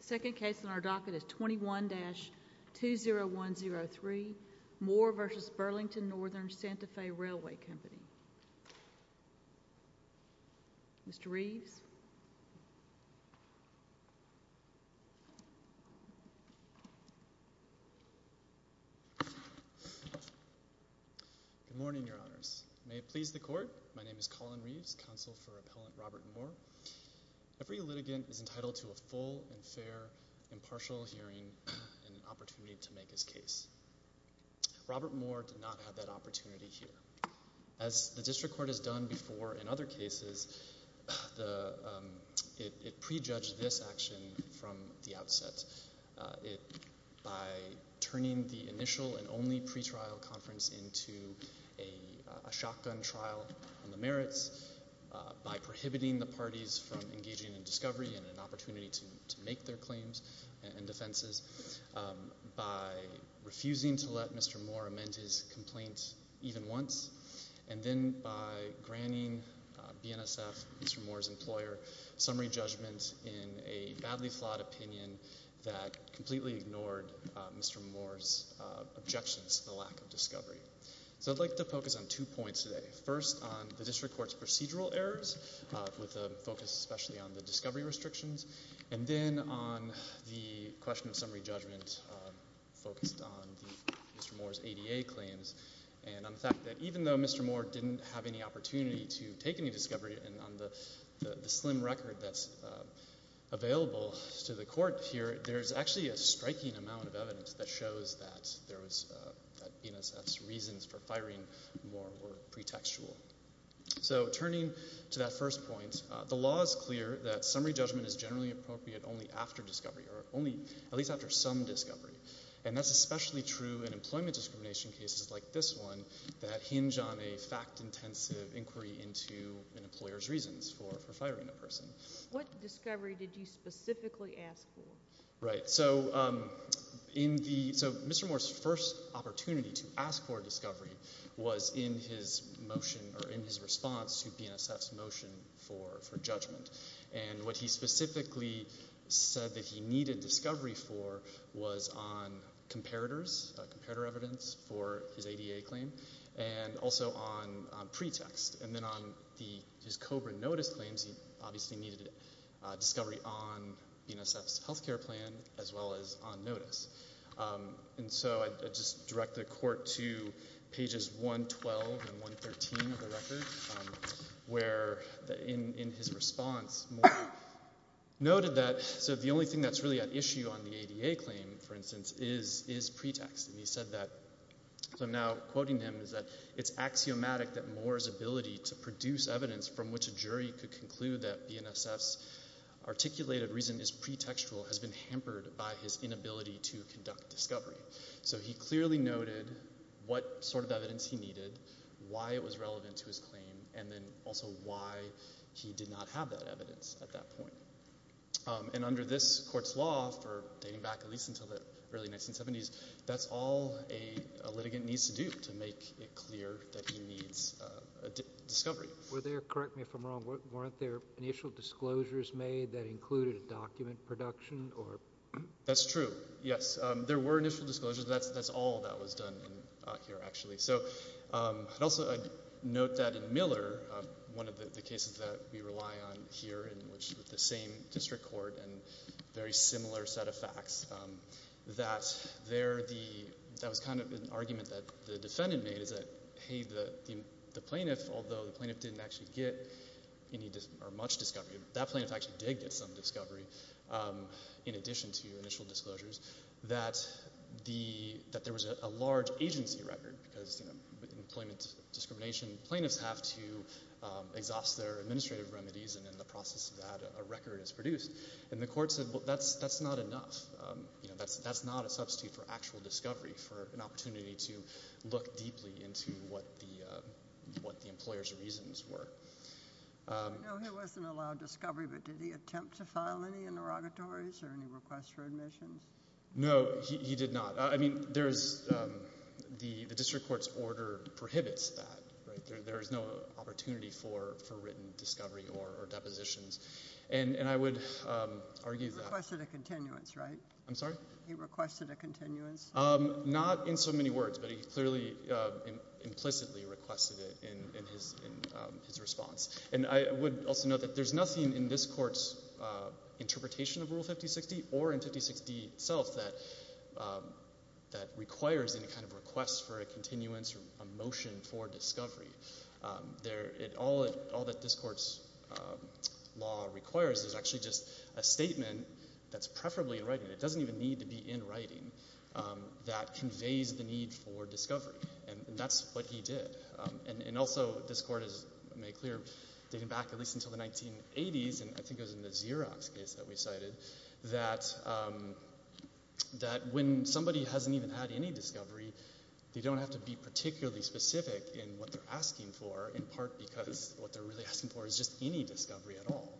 Second case on our docket is 21-20103 Moore v. Burlington Northern Santa Fe Railway Company Mr. Reeves Good morning, your honors. May it please the court, my name is Colin Reeves, counsel for appellant Robert Moore. Every litigant is entitled to a full and fair impartial hearing and an opportunity to make his case. Robert Moore did not have that opportunity here. As the district court has done before in other cases, it prejudged this action from the outset by turning the initial and only pretrial conference into a shotgun trial on the merits, by prohibiting the parties from engaging in discovery and an opportunity to make their claims and defenses, by refusing to let Mr. Moore amend his complaint even once, and then by granting BNSF, Mr. Moore's employer, summary judgment in a badly flawed opinion that completely ignored Mr. Moore's objections to the lack of discovery. So I'd like to focus on two points today. First, on the district court's procedural errors, with a focus especially on the discovery restrictions. And then on the question of summary judgment focused on Mr. Moore's ADA claims and on the fact that even though Mr. Moore didn't have any opportunity to take any discovery, and on the slim record that's available to the court here, there's actually a striking amount of evidence that shows that BNSF's reasons for firing Moore were pretextual. So turning to that first point, the law is clear that summary judgment is generally appropriate only after discovery, or only at least after some discovery. And that's especially true in employment discrimination cases like this one that hinge on a fact-intensive inquiry into an employer's reasons for firing a person. What discovery did you specifically ask for? Right. So Mr. Moore's first opportunity to ask for discovery was in his response to BNSF's motion for judgment. And what he specifically said that he needed discovery for was on comparators, comparator evidence for his ADA claim, and also on pretext. And then on his COBRA notice claims, he obviously needed discovery on BNSF's health care plan as well as on notice. And so I just direct the court to pages 112 and 113 of the record, where in his response, Moore noted that the only thing that's really at issue on the ADA claim, for instance, is pretext. And he said that, so I'm now quoting him, is that it's axiomatic that Moore's ability to produce evidence from which a jury could conclude that BNSF's articulated reason is pretextual has been hampered by his inability to conduct discovery. So he clearly noted what sort of evidence he needed, why it was relevant to his claim, and then also why he did not have that evidence at that point. And under this court's law, dating back at least until the early 1970s, that's all a litigant needs to do to make it clear that he needs discovery. Were there, correct me if I'm wrong, weren't there initial disclosures made that included a document production? That's true, yes. There were initial disclosures, but that's all that was done here, actually. So I'd also note that in Miller, one of the cases that we rely on here, in which the same district court and very similar set of facts, that there was kind of an argument that the defendant made, is that, hey, the plaintiff, although the plaintiff didn't actually get much discovery, that plaintiff actually did get some discovery in addition to initial disclosures, that there was a large agency record, because in employment discrimination, plaintiffs have to exhaust their administrative remedies, and in the process of that, a record is produced. And the court said, well, that's not enough. That's not a substitute for actual discovery, for an opportunity to look deeply into what the employer's reasons were. No, he wasn't allowed discovery, but did he attempt to file any interrogatories or any requests for admissions? No, he did not. I mean, the district court's order prohibits that. There is no opportunity for written discovery or depositions, and I would argue that. He requested a continuance, right? I'm sorry? He requested a continuance? Not in so many words, but he clearly implicitly requested it in his response. And I would also note that there's nothing in this court's interpretation of Rule 5060 or in 5060 itself that requires any kind of request for a continuance or a motion for discovery. All that this court's law requires is actually just a statement that's preferably in writing. It doesn't even need to be in writing that conveys the need for discovery, and that's what he did. And also this court has made clear dating back at least until the 1980s, and I think it was in the Xerox case that we cited, that when somebody hasn't even had any discovery, they don't have to be particularly specific in what they're asking for, in part because what they're really asking for is just any discovery at all.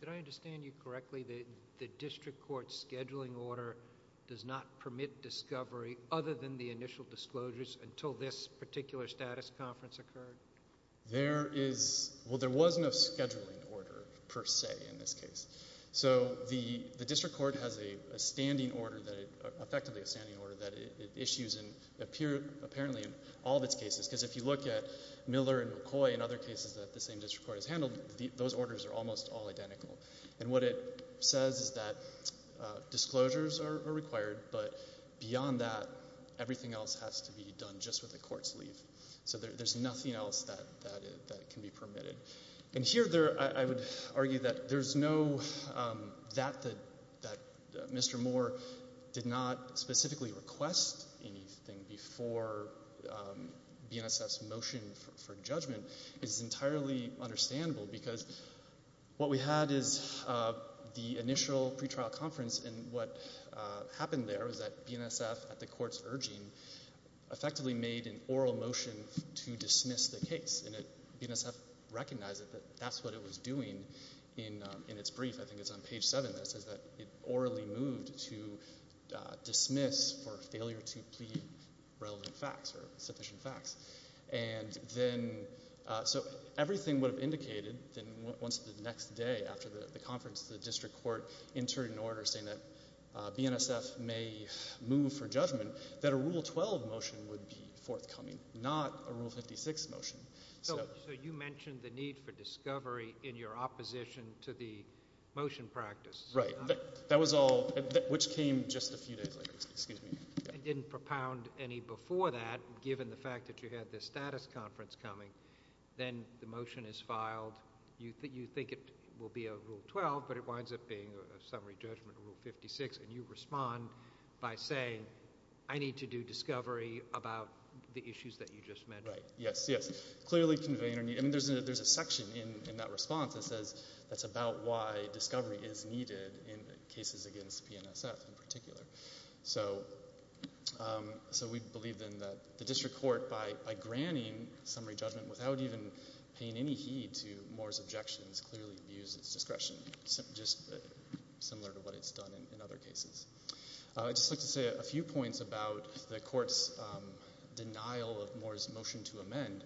Did I understand you correctly? The district court's scheduling order does not permit discovery other than the initial disclosures until this particular status conference occurred? There is no scheduling order per se in this case. So the district court has a standing order, effectively a standing order, that it issues apparently in all of its cases, because if you look at Miller and McCoy and other cases that the same district court has handled, those orders are almost all identical. And what it says is that disclosures are required, but beyond that everything else has to be done just with the court's leave. So there's nothing else that can be permitted. And here I would argue that Mr. Moore did not specifically request anything before BNSF's motion for judgment is entirely understandable, because what we had is the initial pretrial conference, and what happened there was that BNSF, at the court's urging, effectively made an oral motion to dismiss the case, and BNSF recognized that that's what it was doing in its brief. I think it's on page 7 that it says that it orally moved to dismiss for failure to plead relevant facts or sufficient facts. So everything would have indicated that once the next day after the conference, the district court entered an order saying that BNSF may move for judgment, that a Rule 12 motion would be forthcoming, not a Rule 56 motion. So you mentioned the need for discovery in your opposition to the motion practice. Right. That was all which came just a few days later. I didn't propound any before that, given the fact that you had this status conference coming. Then the motion is filed. You think it will be a Rule 12, but it winds up being a summary judgment Rule 56, and you respond by saying, I need to do discovery about the issues that you just mentioned. Yes, clearly conveying a need. There's a section in that response that says that's about why discovery is needed in cases against BNSF in particular. So we believe then that the district court, by granting summary judgment without even paying any heed to Moore's objections, clearly abused its discretion, just similar to what it's done in other cases. I'd just like to say a few points about the court's denial of Moore's motion to amend,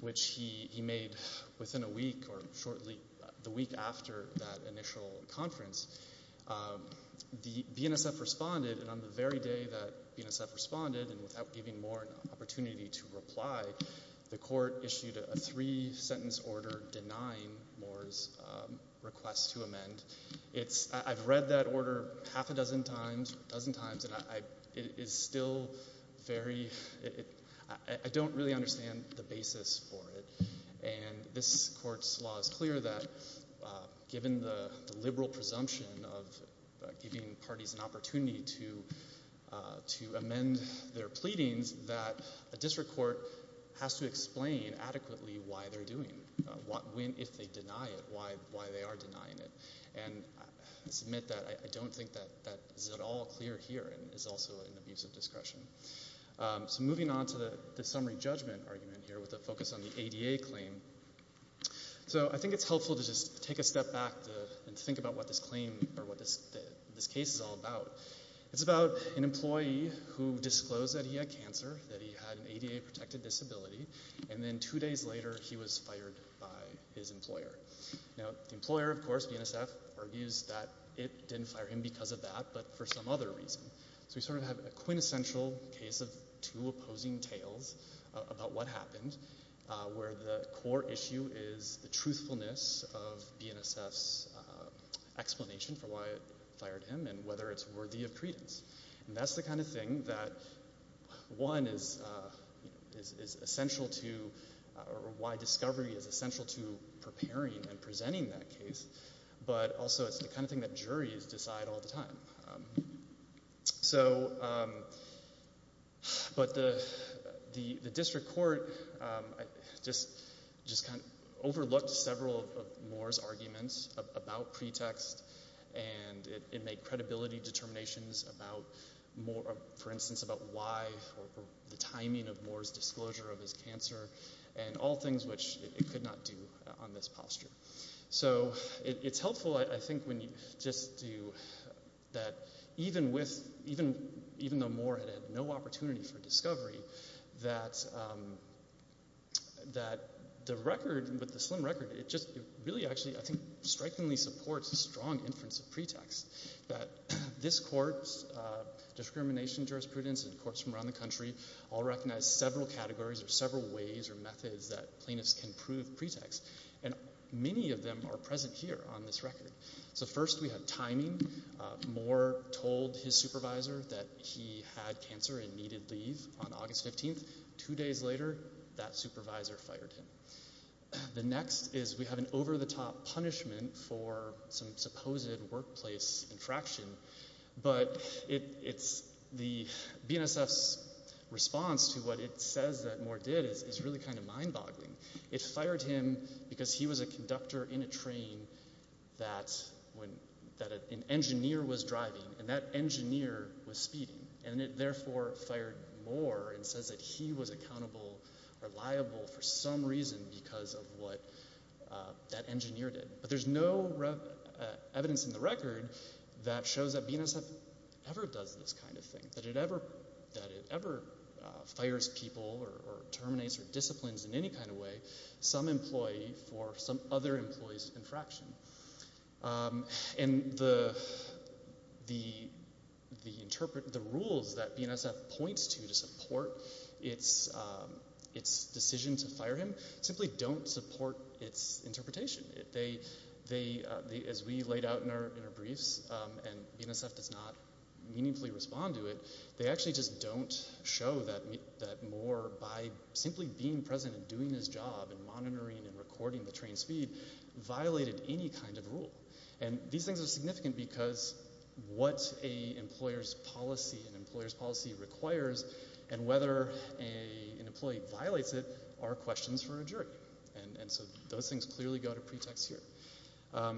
which he made within a week or shortly the week after that initial conference. BNSF responded, and on the very day that BNSF responded, and without giving Moore an opportunity to reply, the court issued a three-sentence order denying Moore's request to amend. I've read that order half a dozen times, a dozen times, and I don't really understand the basis for it. This court's law is clear that, given the liberal presumption of giving parties an opportunity to amend their pleadings, that a district court has to explain adequately why they're doing it, if they deny it, why they are denying it. I submit that I don't think that is at all clear here and is also an abuse of discretion. Moving on to the summary judgment argument here with a focus on the ADA claim. I think it's helpful to just take a step back and think about what this case is all about. It's about an employee who disclosed that he had cancer, that he had an ADA-protected disability, and then two days later he was fired by his employer. The employer, of course, BNSF, argues that it didn't fire him because of that but for some other reason. We sort of have a quintessential case of two opposing tales about what happened, where the core issue is the truthfulness of BNSF's explanation for why it fired him and whether it's worthy of credence. That's the kind of thing that, one, is essential to why discovery is essential to preparing and presenting that case, but also it's the kind of thing that juries decide all the time. So, but the district court just kind of overlooked several of Moore's arguments about pretext and it made credibility determinations about, for instance, about why or the timing of Moore's disclosure of his cancer and all things which it could not do on this posture. So it's helpful, I think, when you just do that even with, even though Moore had had no opportunity for discovery, that the record, with the slim record, it just really actually, I think, strikingly supports a strong inference of pretext that this court's discrimination jurisprudence and courts from around the country all recognize several categories or several ways or methods that plaintiffs can prove pretext and many of them are present here on this record. So first, we have timing. Moore told his supervisor that he had cancer and needed leave on August 15th. Two days later, that supervisor fired him. The next is we have an over-the-top punishment for some supposed workplace infraction, but it's the BNSF's response to what it says that Moore did is really kind of mind-boggling. It fired him because he was a conductor in a train that an engineer was driving and that engineer was speeding and it therefore fired Moore and says that he was accountable or liable for some reason because of what that engineer did. But there's no evidence in the record that shows that BNSF ever does this kind of thing, that it ever fires people or terminates or disciplines in any kind of way some employee for some other employee's infraction. And the rules that BNSF points to to support its decision to fire him as we laid out in our briefs and BNSF does not meaningfully respond to it, they actually just don't show that Moore, by simply being present and doing his job and monitoring and recording the train speed, violated any kind of rule. And these things are significant because what an employer's policy requires and whether an employee violates it are questions for a jury. And so those things clearly go to pretext here.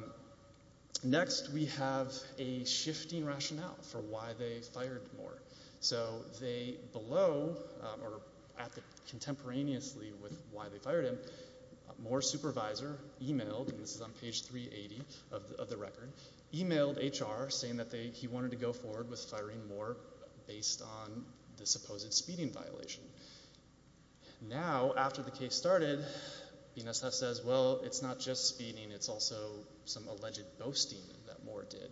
Next we have a shifting rationale for why they fired Moore. So they below or contemporaneously with why they fired him, Moore's supervisor emailed, and this is on page 380 of the record, emailed HR saying that he wanted to go forward with firing Moore based on the supposed speeding violation. Now, after the case started, BNSF says, well, it's not just speeding, it's also some alleged boasting that Moore did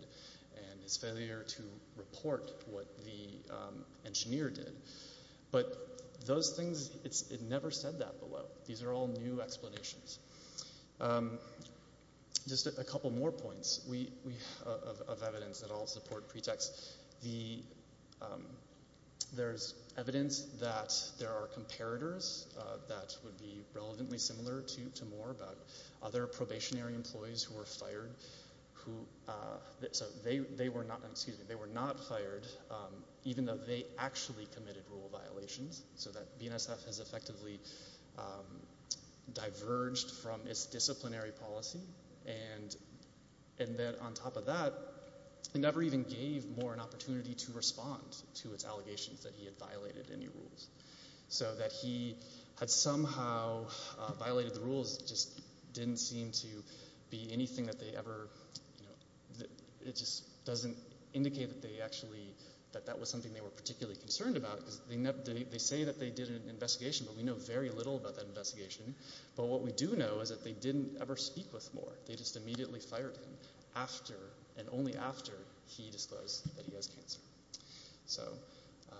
and his failure to report what the engineer did. But those things, it never said that below. These are all new explanations. Just a couple more points of evidence that all support pretext. There's evidence that there are comparators that would be relevantly similar to Moore about other probationary employees who were fired. So they were not fired even though they actually committed rule violations so that BNSF has effectively diverged from its disciplinary policy. And then on top of that, it never even gave Moore an opportunity to respond to its allegations that he had violated any rules. So that he had somehow violated the rules just didn't seem to be anything that they ever, it just doesn't indicate that they actually, that that was something they were particularly concerned about because they say that they did an investigation, but we know very little about that investigation. But what we do know is that they didn't ever speak with Moore. They just immediately fired him after and only after he disclosed that he has cancer. So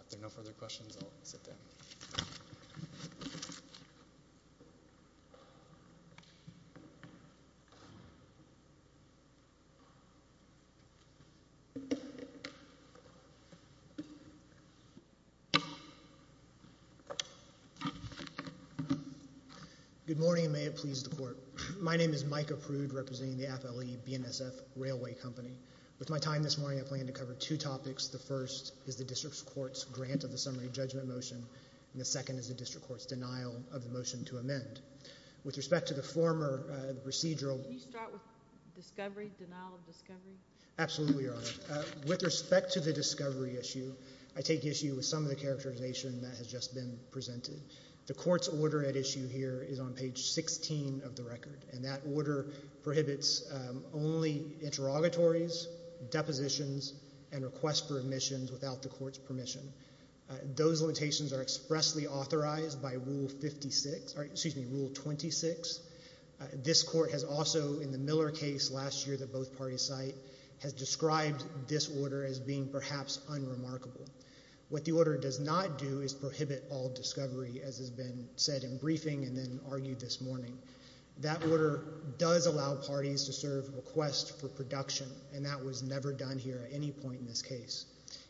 if there are no further questions, I'll sit down. Good morning and may it please the Court. My name is Mike Aprud representing the FLE BNSF Railway Company. With my time this morning, I plan to cover two topics. The first is the District Court's grant of the summary judgment motion and the second is the District Court's denial of the motion to amend. With respect to the former procedural Can you start with discovery, denial of discovery? Absolutely, Your Honor. With respect to the discovery issue, I take issue with some of the characterization that has just been presented. The Court's order at issue here is on page 16 of the record and that order prohibits only interrogatories, depositions, and requests for admissions without the Court's permission. Those limitations are expressly authorized by Rule 56, excuse me, Rule 26. This Court has also, in the Miller case last year that both parties cite, has described this order as being perhaps unremarkable. What the order does not do is prohibit all discovery, as has been said in briefing and then argued this morning. That order does allow parties to serve requests for production and that was never done here at any point in this case.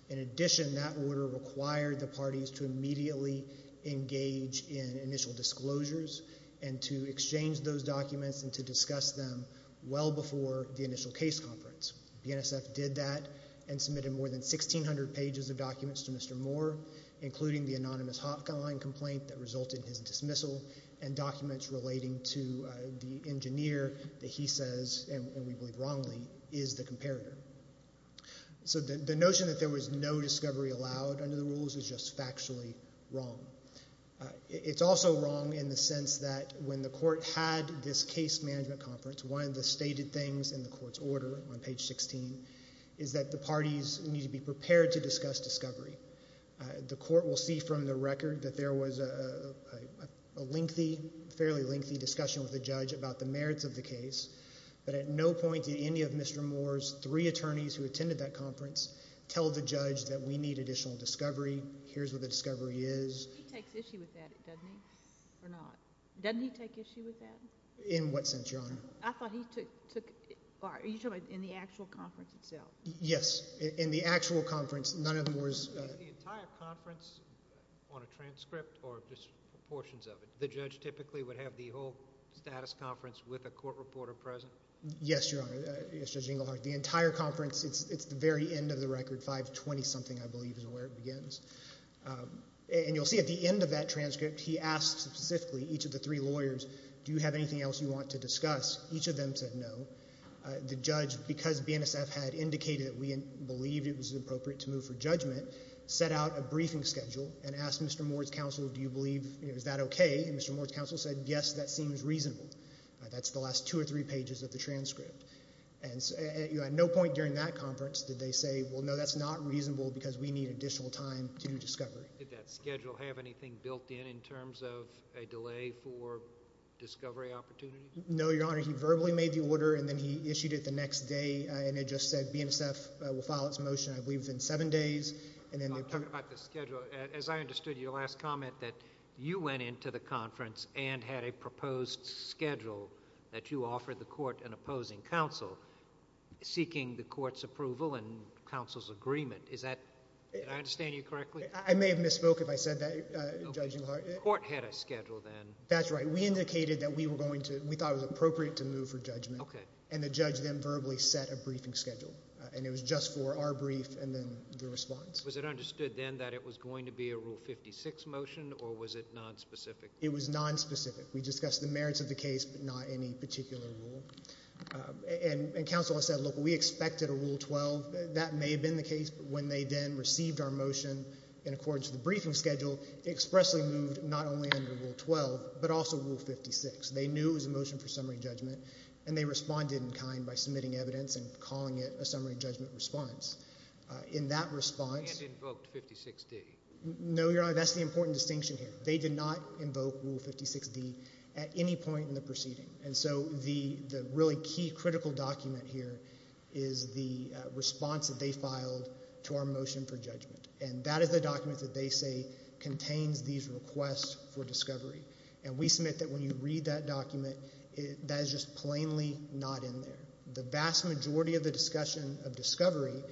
In addition, that order required the parties to immediately engage in initial disclosures and to exchange those documents and to discuss them well before the initial case conference. BNSF did that and submitted more than 1,600 pages of documents to Mr. Moore, including the anonymous hotline complaint that resulted in his dismissal and documents relating to the engineer that he says, and we believe wrongly, is the comparator. So the notion that there was no discovery allowed under the rules is just factually wrong. It's also wrong in the sense that when the Court had this case management conference, one of the stated things in the Court's order on page 16 is that the parties need to be prepared to discuss discovery. The Court will see from the record that there was a lengthy, fairly lengthy discussion with the judge about the merits of the case, but at no point did any of Mr. Moore's three attorneys who attended that conference tell the judge that we need additional discovery, here's what the discovery is. He takes issue with that, doesn't he, or not? Doesn't he take issue with that? In what sense, Your Honor? I thought he took, are you talking about in the actual conference itself? Yes, in the actual conference, none of the Moore's. Is the entire conference on a transcript or just portions of it? The judge typically would have the whole status conference with a court reporter present? Yes, Your Honor, Judge Engelhardt. The entire conference, it's the very end of the record, 520-something I believe is where it begins. And you'll see at the end of that transcript, he asks specifically each of the three lawyers, do you have anything else you want to discuss? Each of them said no. The judge, because BNSF had indicated that we believed it was appropriate to move for judgment, set out a briefing schedule and asked Mr. Moore's counsel, do you believe, is that okay? And Mr. Moore's counsel said, yes, that seems reasonable. That's the last two or three pages of the transcript. And at no point during that conference did they say, well, no, that's not reasonable because we need additional time to do discovery. Did that schedule have anything built in in terms of a delay for discovery opportunities? No, Your Honor. He verbally made the order and then he issued it the next day and it just said BNSF will file its motion, I believe, in seven days. I'm talking about the schedule. As I understood your last comment that you went into the conference and had a proposed schedule that you offered the court an opposing counsel, seeking the court's approval and counsel's agreement. Did I understand you correctly? I may have misspoke if I said that, Judge Eulhard. The court had a schedule then. That's right. We indicated that we thought it was appropriate to move for judgment. Okay. And the judge then verbally set a briefing schedule, and it was just for our brief and then the response. Was it understood then that it was going to be a Rule 56 motion or was it nonspecific? It was nonspecific. We discussed the merits of the case but not any particular rule. And counsel said, look, we expected a Rule 12. That may have been the case, but when they then received our motion in accordance with the briefing schedule, it expressly moved not only under Rule 12 but also Rule 56. They knew it was a motion for summary judgment, and they responded in kind by submitting evidence and calling it a summary judgment response. In that response. And invoked 56D. No, Your Honor, that's the important distinction here. They did not invoke Rule 56D at any point in the proceeding. And so the really key critical document here is the response that they filed to our motion for judgment. And that is the document that they say contains these requests for discovery. And we submit that when you read that document, that is just plainly not in there. The vast majority of the discussion of discovery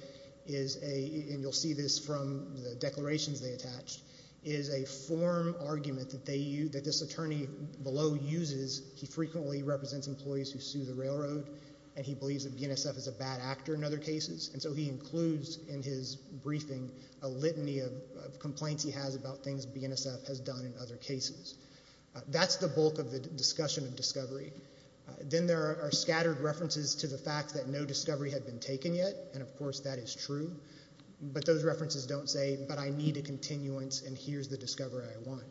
is a, and you'll see this from the declarations they attached, is a form argument that this attorney below uses. He frequently represents employees who sue the railroad, and he believes that BNSF is a bad actor in other cases. And so he includes in his briefing a litany of complaints he has about things BNSF has done in other cases. That's the bulk of the discussion of discovery. Then there are scattered references to the fact that no discovery had been taken yet. And, of course, that is true. But those references don't say, but I need a continuance and here's the discovery I want.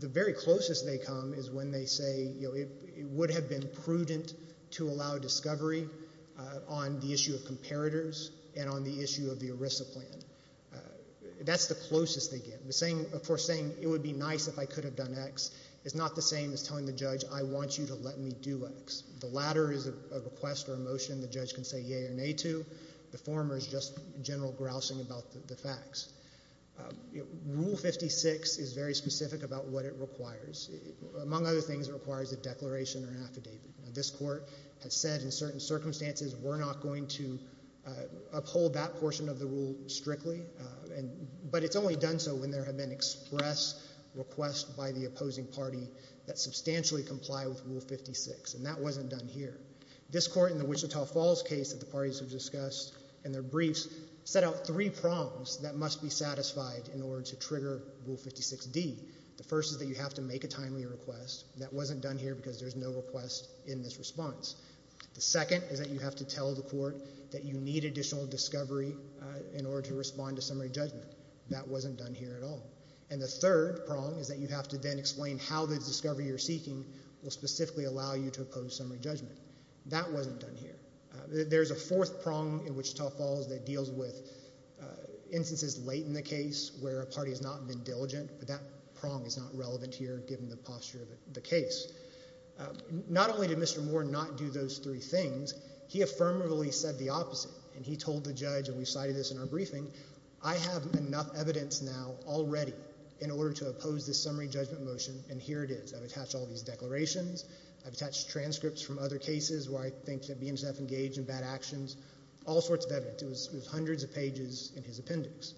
The very closest they come is when they say, it would have been prudent to allow discovery on the issue of comparators and on the issue of the ERISA plan. That's the closest they get. Of course, saying it would be nice if I could have done X is not the same as telling the judge I want you to let me do X. The latter is a request or a motion the judge can say yea or nay to. The former is just general grousing about the facts. Rule 56 is very specific about what it requires. Among other things, it requires a declaration or affidavit. This court has said in certain circumstances we're not going to uphold that portion of the rule strictly, but it's only done so when there have been express requests by the opposing party that substantially comply with Rule 56, and that wasn't done here. This court in the Wichita Falls case that the parties have discussed in their briefs set out three prongs that must be satisfied in order to trigger Rule 56D. The first is that you have to make a timely request. That wasn't done here because there's no request in this response. The second is that you have to tell the court that you need additional discovery in order to respond to summary judgment. That wasn't done here at all. And the third prong is that you have to then explain how the discovery you're seeking will specifically allow you to oppose summary judgment. That wasn't done here. There's a fourth prong in Wichita Falls that deals with instances late in the case where a party has not been diligent, but that prong is not relevant here given the posture of the case. Not only did Mr. Moore not do those three things, he affirmatively said the opposite, and he told the judge, and we cited this in our briefing, I have enough evidence now already in order to oppose this summary judgment motion, and here it is. I've attached all these declarations. I've attached transcripts from other cases where I think that being self-engaged in bad actions, all sorts of evidence. It was hundreds of pages in his appendix.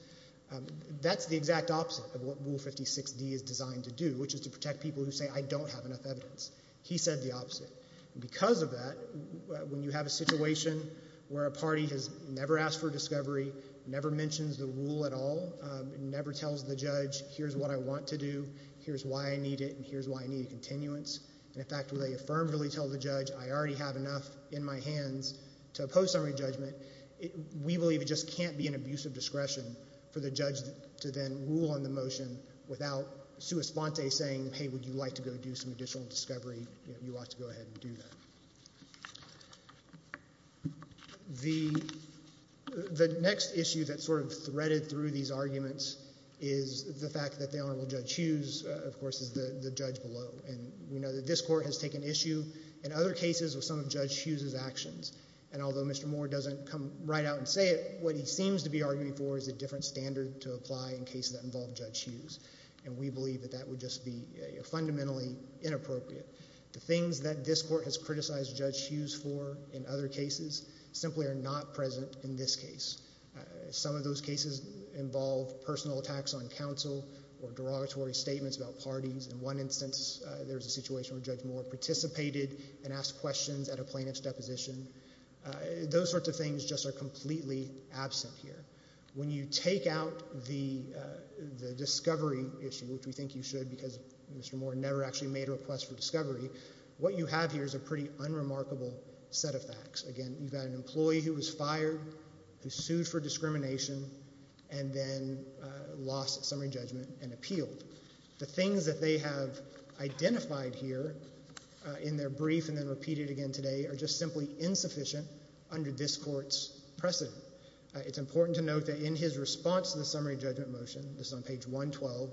That's the exact opposite of what Rule 56D is designed to do, which is to protect people who say, I don't have enough evidence. He said the opposite. Because of that, when you have a situation where a party has never asked for discovery, never mentions the rule at all, never tells the judge, here's what I want to do, here's why I need it, and here's why I need a continuance. In fact, when they affirmatively tell the judge, I already have enough in my hands to oppose summary judgment, we believe it just can't be an abuse of discretion for the judge to then rule on the motion without sua sponte saying, hey, would you like to go do some additional discovery? You ought to go ahead and do that. The next issue that's sort of threaded through these arguments is the fact that the Honorable Judge Hughes, of course, is the judge below. And we know that this court has taken issue in other cases with some of Judge Hughes's actions. And although Mr. Moore doesn't come right out and say it, what he seems to be arguing for is a different standard to apply in cases that involve Judge Hughes. And we believe that that would just be fundamentally inappropriate. The things that this court has criticized Judge Hughes for in other cases simply are not present in this case. Some of those cases involve personal attacks on counsel or derogatory statements about parties. In one instance, there's a situation where Judge Moore participated and asked questions at a plaintiff's deposition. Those sorts of things just are completely absent here. When you take out the discovery issue, which we think you should because Mr. Moore never actually made a request for discovery, what you have here is a pretty unremarkable set of facts. Again, you've got an employee who was fired, who sued for discrimination, and then lost summary judgment and appealed. The things that they have identified here in their brief and then repeated again today are just simply insufficient under this court's precedent. It's important to note that in his response to the summary judgment motion, this is on page 112,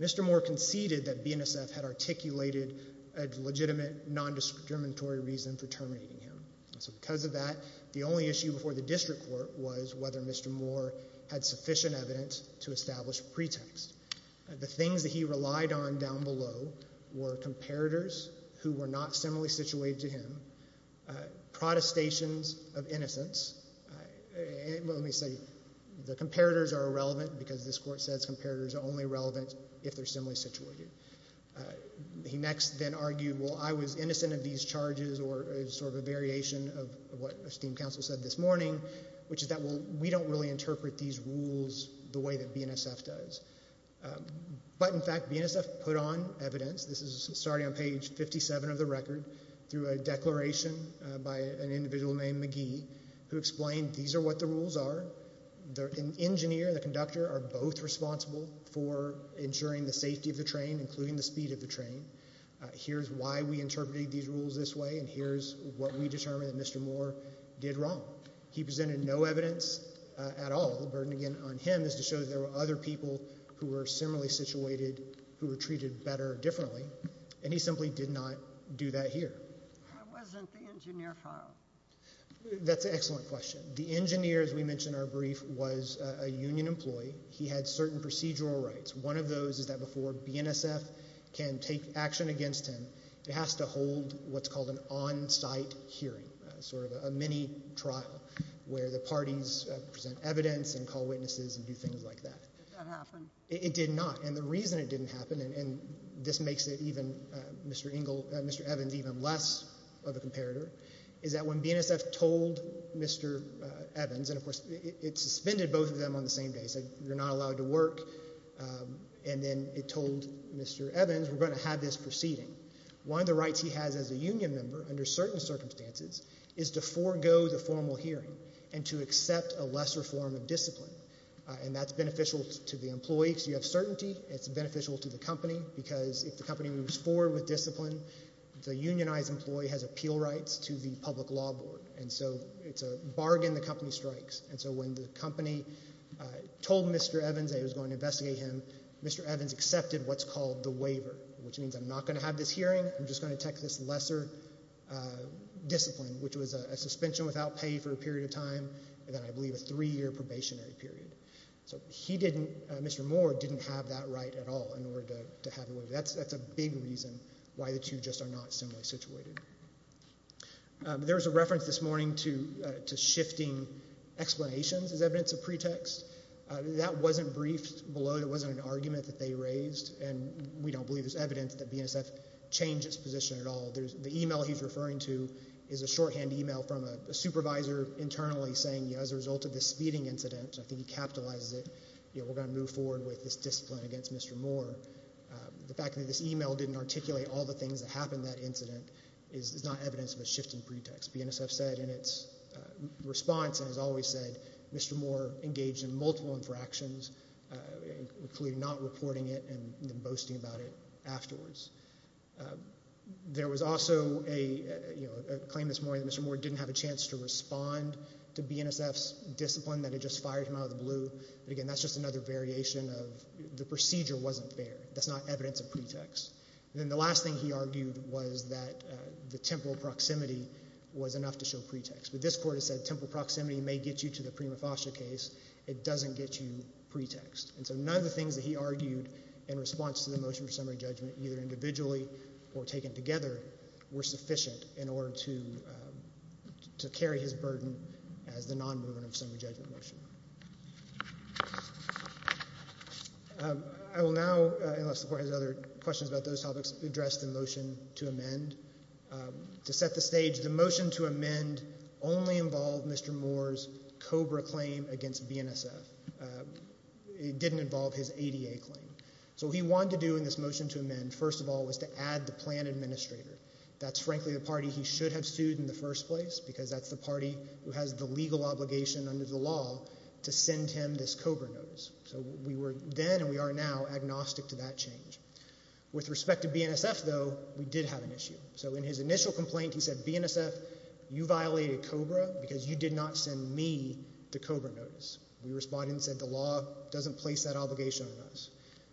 Mr. Moore conceded that BNSF had articulated a legitimate nondiscriminatory reason for terminating him. So because of that, the only issue before the district court was whether Mr. Moore had sufficient evidence to establish a pretext. The things that he relied on down below were comparators who were not similarly situated to him, protestations of innocence. Well, let me say, the comparators are irrelevant because this court says comparators are only relevant if they're similarly situated. He next then argued, well, I was innocent of these charges or sort of a variation of what esteemed counsel said this morning, which is that, well, we don't really interpret these rules the way that BNSF does. But in fact, BNSF put on evidence, this is starting on page 57 of the record, through a declaration by an individual named McGee who explained these are what the rules are. The engineer and the conductor are both responsible for ensuring the safety of the train, including the speed of the train. Here's why we interpreted these rules this way, and here's what we determined that Mr. Moore did wrong. He presented no evidence at all. The burden, again, on him is to show that there were other people who were similarly situated who were treated better differently, and he simply did not do that here. Why wasn't the engineer found? That's an excellent question. The engineer, as we mentioned in our brief, was a union employee. He had certain procedural rights. One of those is that before BNSF can take action against him, it has to hold what's called an on-site hearing, sort of a mini-trial where the parties present evidence and call witnesses and do things like that. Did that happen? It did not, and the reason it didn't happen, and this makes Mr. Evans even less of a comparator, is that when BNSF told Mr. Evans, and of course it suspended both of them on the same day, said you're not allowed to work, and then it told Mr. Evans we're going to have this proceeding. One of the rights he has as a union member under certain circumstances is to forego the formal hearing and to accept a lesser form of discipline, and that's beneficial to the employee because you have certainty. It's beneficial to the company because if the company moves forward with discipline, the unionized employee has appeal rights to the public law board, and so it's a bargain the company strikes. And so when the company told Mr. Evans that it was going to investigate him, Mr. Evans accepted what's called the waiver, which means I'm not going to have this hearing, I'm just going to take this lesser discipline, which was a suspension without pay for a period of time, and then I believe a three-year probationary period. So he didn't, Mr. Moore, didn't have that right at all in order to have the waiver. That's a big reason why the two just are not similarly situated. There was a reference this morning to shifting explanations as evidence of pretext. That wasn't briefed below. There wasn't an argument that they raised, and we don't believe there's evidence that BNSF changed its position at all. The e-mail he's referring to is a shorthand e-mail from a supervisor internally saying, as a result of this speeding incident, I think he capitalizes it, we're going to move forward with this discipline against Mr. Moore. The fact that this e-mail didn't articulate all the things that happened in that incident is not evidence of a shifting pretext. As BNSF said in its response and has always said, Mr. Moore engaged in multiple infractions, including not reporting it and then boasting about it afterwards. There was also a claim this morning that Mr. Moore didn't have a chance to respond to BNSF's discipline, that it just fired him out of the blue. But, again, that's just another variation of the procedure wasn't fair. That's not evidence of pretext. And then the last thing he argued was that the temporal proximity was enough to show pretext. But this Court has said temporal proximity may get you to the prima facie case. It doesn't get you pretext. And so none of the things that he argued in response to the motion for summary judgment, either individually or taken together, were sufficient in order to carry his burden as the non-movement of the summary judgment motion. I will now, unless the Court has other questions about those topics, address the motion to amend. To set the stage, the motion to amend only involved Mr. Moore's COBRA claim against BNSF. It didn't involve his ADA claim. So what he wanted to do in this motion to amend, first of all, was to add the plan administrator. That's, frankly, the party he should have sued in the first place because that's the party who has the legal obligation under the law to send him this COBRA notice. So we were then and we are now agnostic to that change. With respect to BNSF, though, we did have an issue. So in his initial complaint, he said, BNSF, you violated COBRA because you did not send me the COBRA notice. We responded and said the law doesn't place that obligation on us.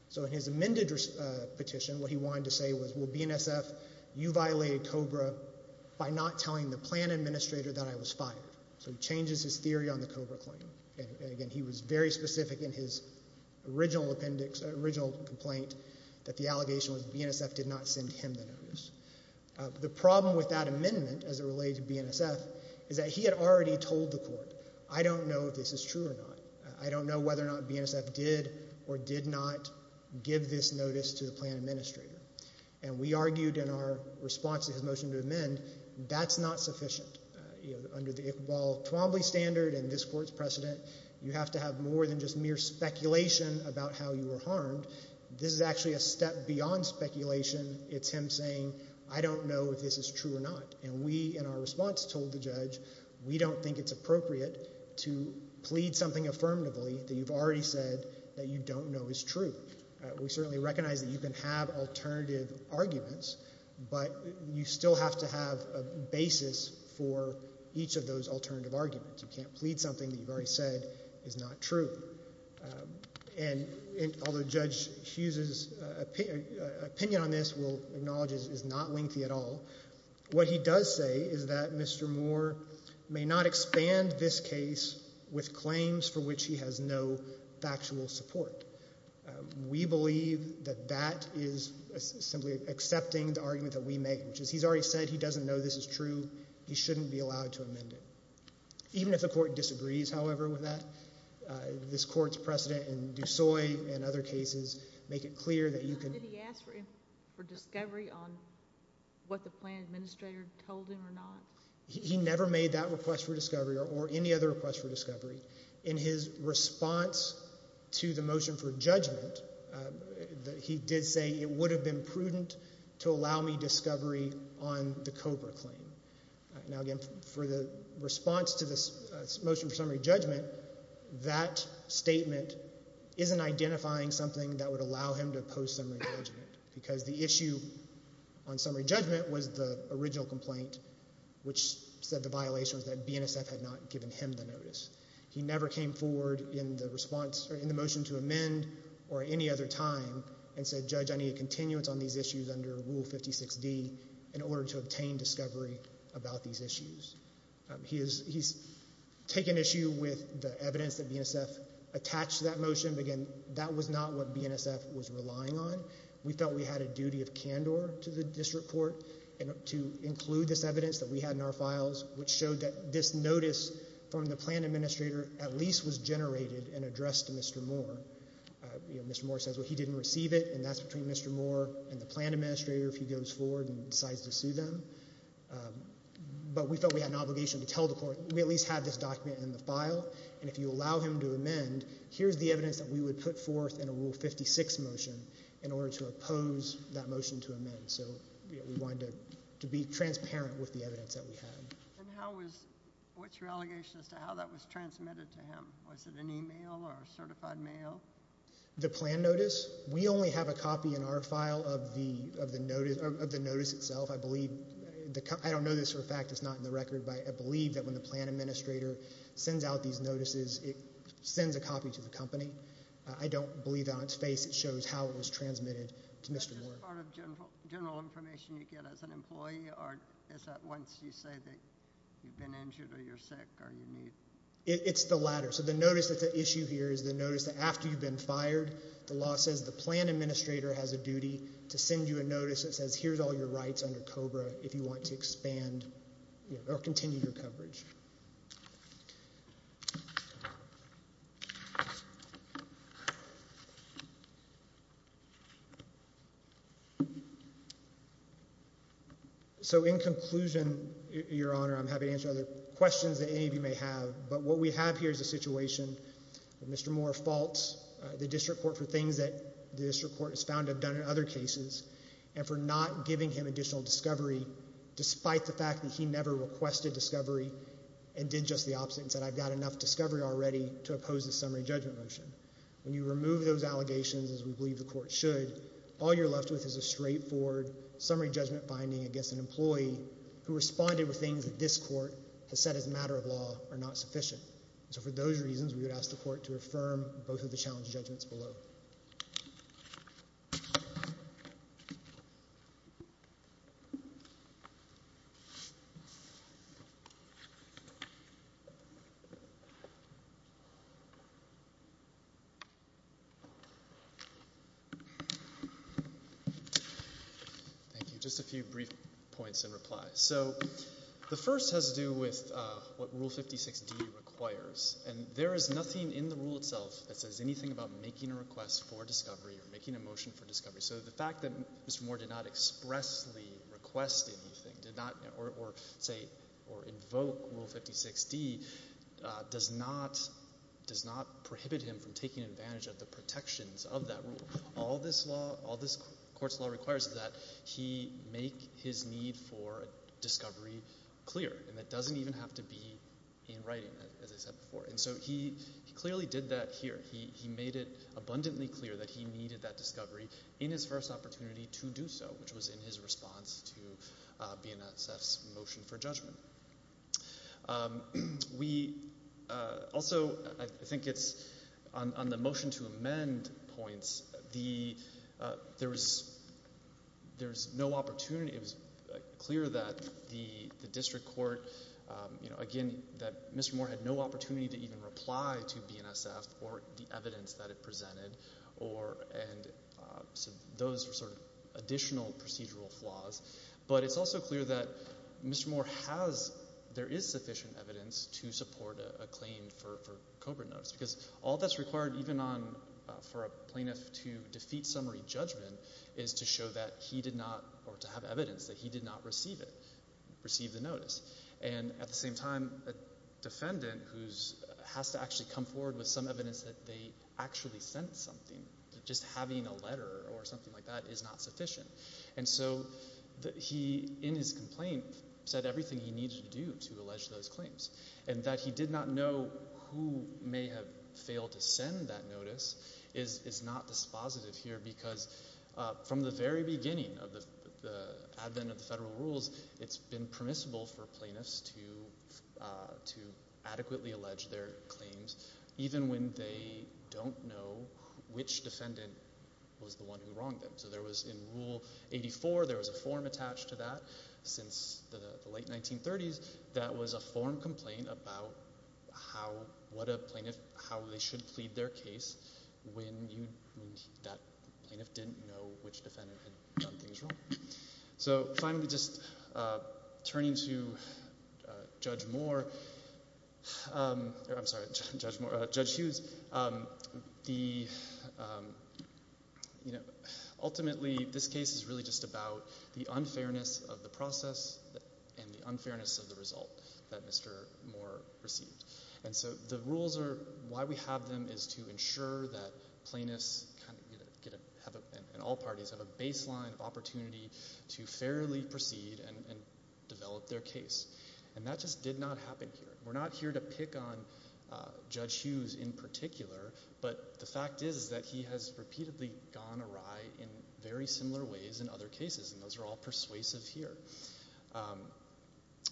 So in his amended petition, what he wanted to say was, well, BNSF, you violated COBRA by not telling the plan administrator that I was fired. So he changes his theory on the COBRA claim. And, again, he was very specific in his original appendix, original complaint, that the allegation was BNSF did not send him the notice. The problem with that amendment as it related to BNSF is that he had already told the Court, I don't know if this is true or not. I don't know whether or not BNSF did or did not give this notice to the plan administrator. And we argued in our response to his motion to amend, that's not sufficient. Under the Iqbal Twombly standard and this Court's precedent, you have to have more than just mere speculation about how you were harmed. This is actually a step beyond speculation. It's him saying, I don't know if this is true or not. And we, in our response, told the judge, we don't think it's appropriate to plead something affirmatively that you've already said that you don't know is true. We certainly recognize that you can have alternative arguments, but you still have to have a basis for each of those alternative arguments. You can't plead something that you've already said is not true. And although Judge Hughes's opinion on this we'll acknowledge is not lengthy at all, what he does say is that Mr. Moore may not expand this case with claims for which he has no factual support. We believe that that is simply accepting the argument that we make, which is he's already said he doesn't know this is true. He shouldn't be allowed to amend it. Even if the Court disagrees, however, with that, this Court's precedent in Dusoy and other cases make it clear that you can— He never made that request for discovery or any other request for discovery. In his response to the motion for judgment, he did say it would have been prudent to allow me discovery on the Cobra claim. Now, again, for the response to the motion for summary judgment, that statement isn't identifying something that would allow him to oppose summary judgment because the issue on summary judgment was the original complaint, which said the violation was that BNSF had not given him the notice. He never came forward in the response or in the motion to amend or any other time and said, Judge, I need a continuance on these issues under Rule 56D in order to obtain discovery about these issues. He's taken issue with the evidence that BNSF attached to that motion. Again, that was not what BNSF was relying on. We felt we had a duty of candor to the district court to include this evidence that we had in our files, which showed that this notice from the plan administrator at least was generated and addressed to Mr. Moore. Mr. Moore says, well, he didn't receive it, and that's between Mr. Moore and the plan administrator if he goes forward and decides to sue them. But we felt we had an obligation to tell the Court we at least had this document in the file, and if you allow him to amend, here's the evidence that we would put forth in a Rule 56 motion in order to oppose that motion to amend. So we wanted to be transparent with the evidence that we had. And what's your allegation as to how that was transmitted to him? Was it an email or a certified mail? The plan notice? We only have a copy in our file of the notice itself. I don't know this for a fact. It's not in the record, but I believe that when the plan administrator sends out these notices, it sends a copy to the company. I don't believe that on its face it shows how it was transmitted to Mr. Moore. Is that just part of general information you get as an employee, or is that once you say that you've been injured or you're sick or you need? It's the latter. So the notice that's at issue here is the notice that after you've been fired, the law says the plan administrator has a duty to send you a notice that says, here's all your rights under COBRA if you want to expand or continue your coverage. So in conclusion, Your Honor, I'm happy to answer other questions that any of you may have, but what we have here is a situation where Mr. Moore faults the district court for things that the district court is found to have done in other cases and for not giving him additional discovery despite the fact that he never requested discovery and did just the opposite and said I've got enough discovery already to oppose the summary judgment motion. When you remove those allegations, as we believe the court should, all you're left with is a straightforward summary judgment finding against an employee who responded with things that this court has said as a matter of law are not sufficient. So for those reasons, we would ask the court to affirm both of the challenge judgments below. Thank you. Just a few brief points in reply. So the first has to do with what Rule 56D requires, and there is nothing in the rule itself that says anything about making a request for discovery or making a motion for discovery. So the fact that Mr. Moore did not expressly request anything or invoke Rule 56D does not prohibit him from taking advantage of the protections of that rule. All this law, all this court's law requires is that he make his need for discovery clear, and that doesn't even have to be in writing, as I said before. And so he clearly did that here. He made it abundantly clear that he needed that discovery in his first opportunity to do so, which was in his response to BNSF's motion for judgment. We also, I think it's on the motion to amend points, there was no opportunity. It was clear that the district court, again, that Mr. Moore had no opportunity to even reply to BNSF or the evidence that it presented, and those were sort of additional procedural flaws. But it's also clear that Mr. Moore has, there is sufficient evidence to support a claim for COBRA notice because all that's required, even for a plaintiff to defeat summary judgment, is to show that he did not, or to have evidence that he did not receive it, receive the notice. And at the same time, a defendant who has to actually come forward with some evidence that they actually sent something, just having a letter or something like that is not sufficient. And so he, in his complaint, said everything he needed to do to allege those claims. And that he did not know who may have failed to send that notice is not dispositive here because from the very beginning of the advent of the federal rules, it's been permissible for plaintiffs to adequately allege their claims, even when they don't know which defendant was the one who wronged them. So there was, in Rule 84, there was a form attached to that since the late 1930s that was a form complaint about what a plaintiff, how they should plead their case when that plaintiff didn't know which defendant had done things wrong. So finally, just turning to Judge Moore, I'm sorry, Judge Hughes. Ultimately, this case is really just about the unfairness of the process and the unfairness of the result that Mr. Moore received. And so the rules are, why we have them is to ensure that plaintiffs, and all parties, have a baseline opportunity to fairly proceed and develop their case. And that just did not happen here. We're not here to pick on Judge Hughes in particular, but the fact is that he has repeatedly gone awry in very similar ways in other cases, and those are all persuasive here.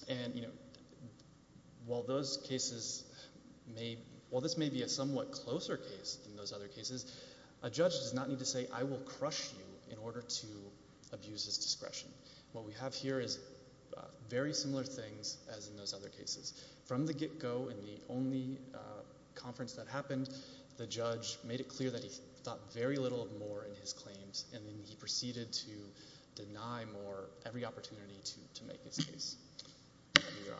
And while this may be a somewhat closer case than those other cases, a judge does not need to say, I will crush you in order to abuse his discretion. What we have here is very similar things as in those other cases. From the get-go, in the only conference that happened, the judge made it clear that he thought very little of Moore in his claims, and then he proceeded to deny Moore every opportunity to make his case. I give you your honors.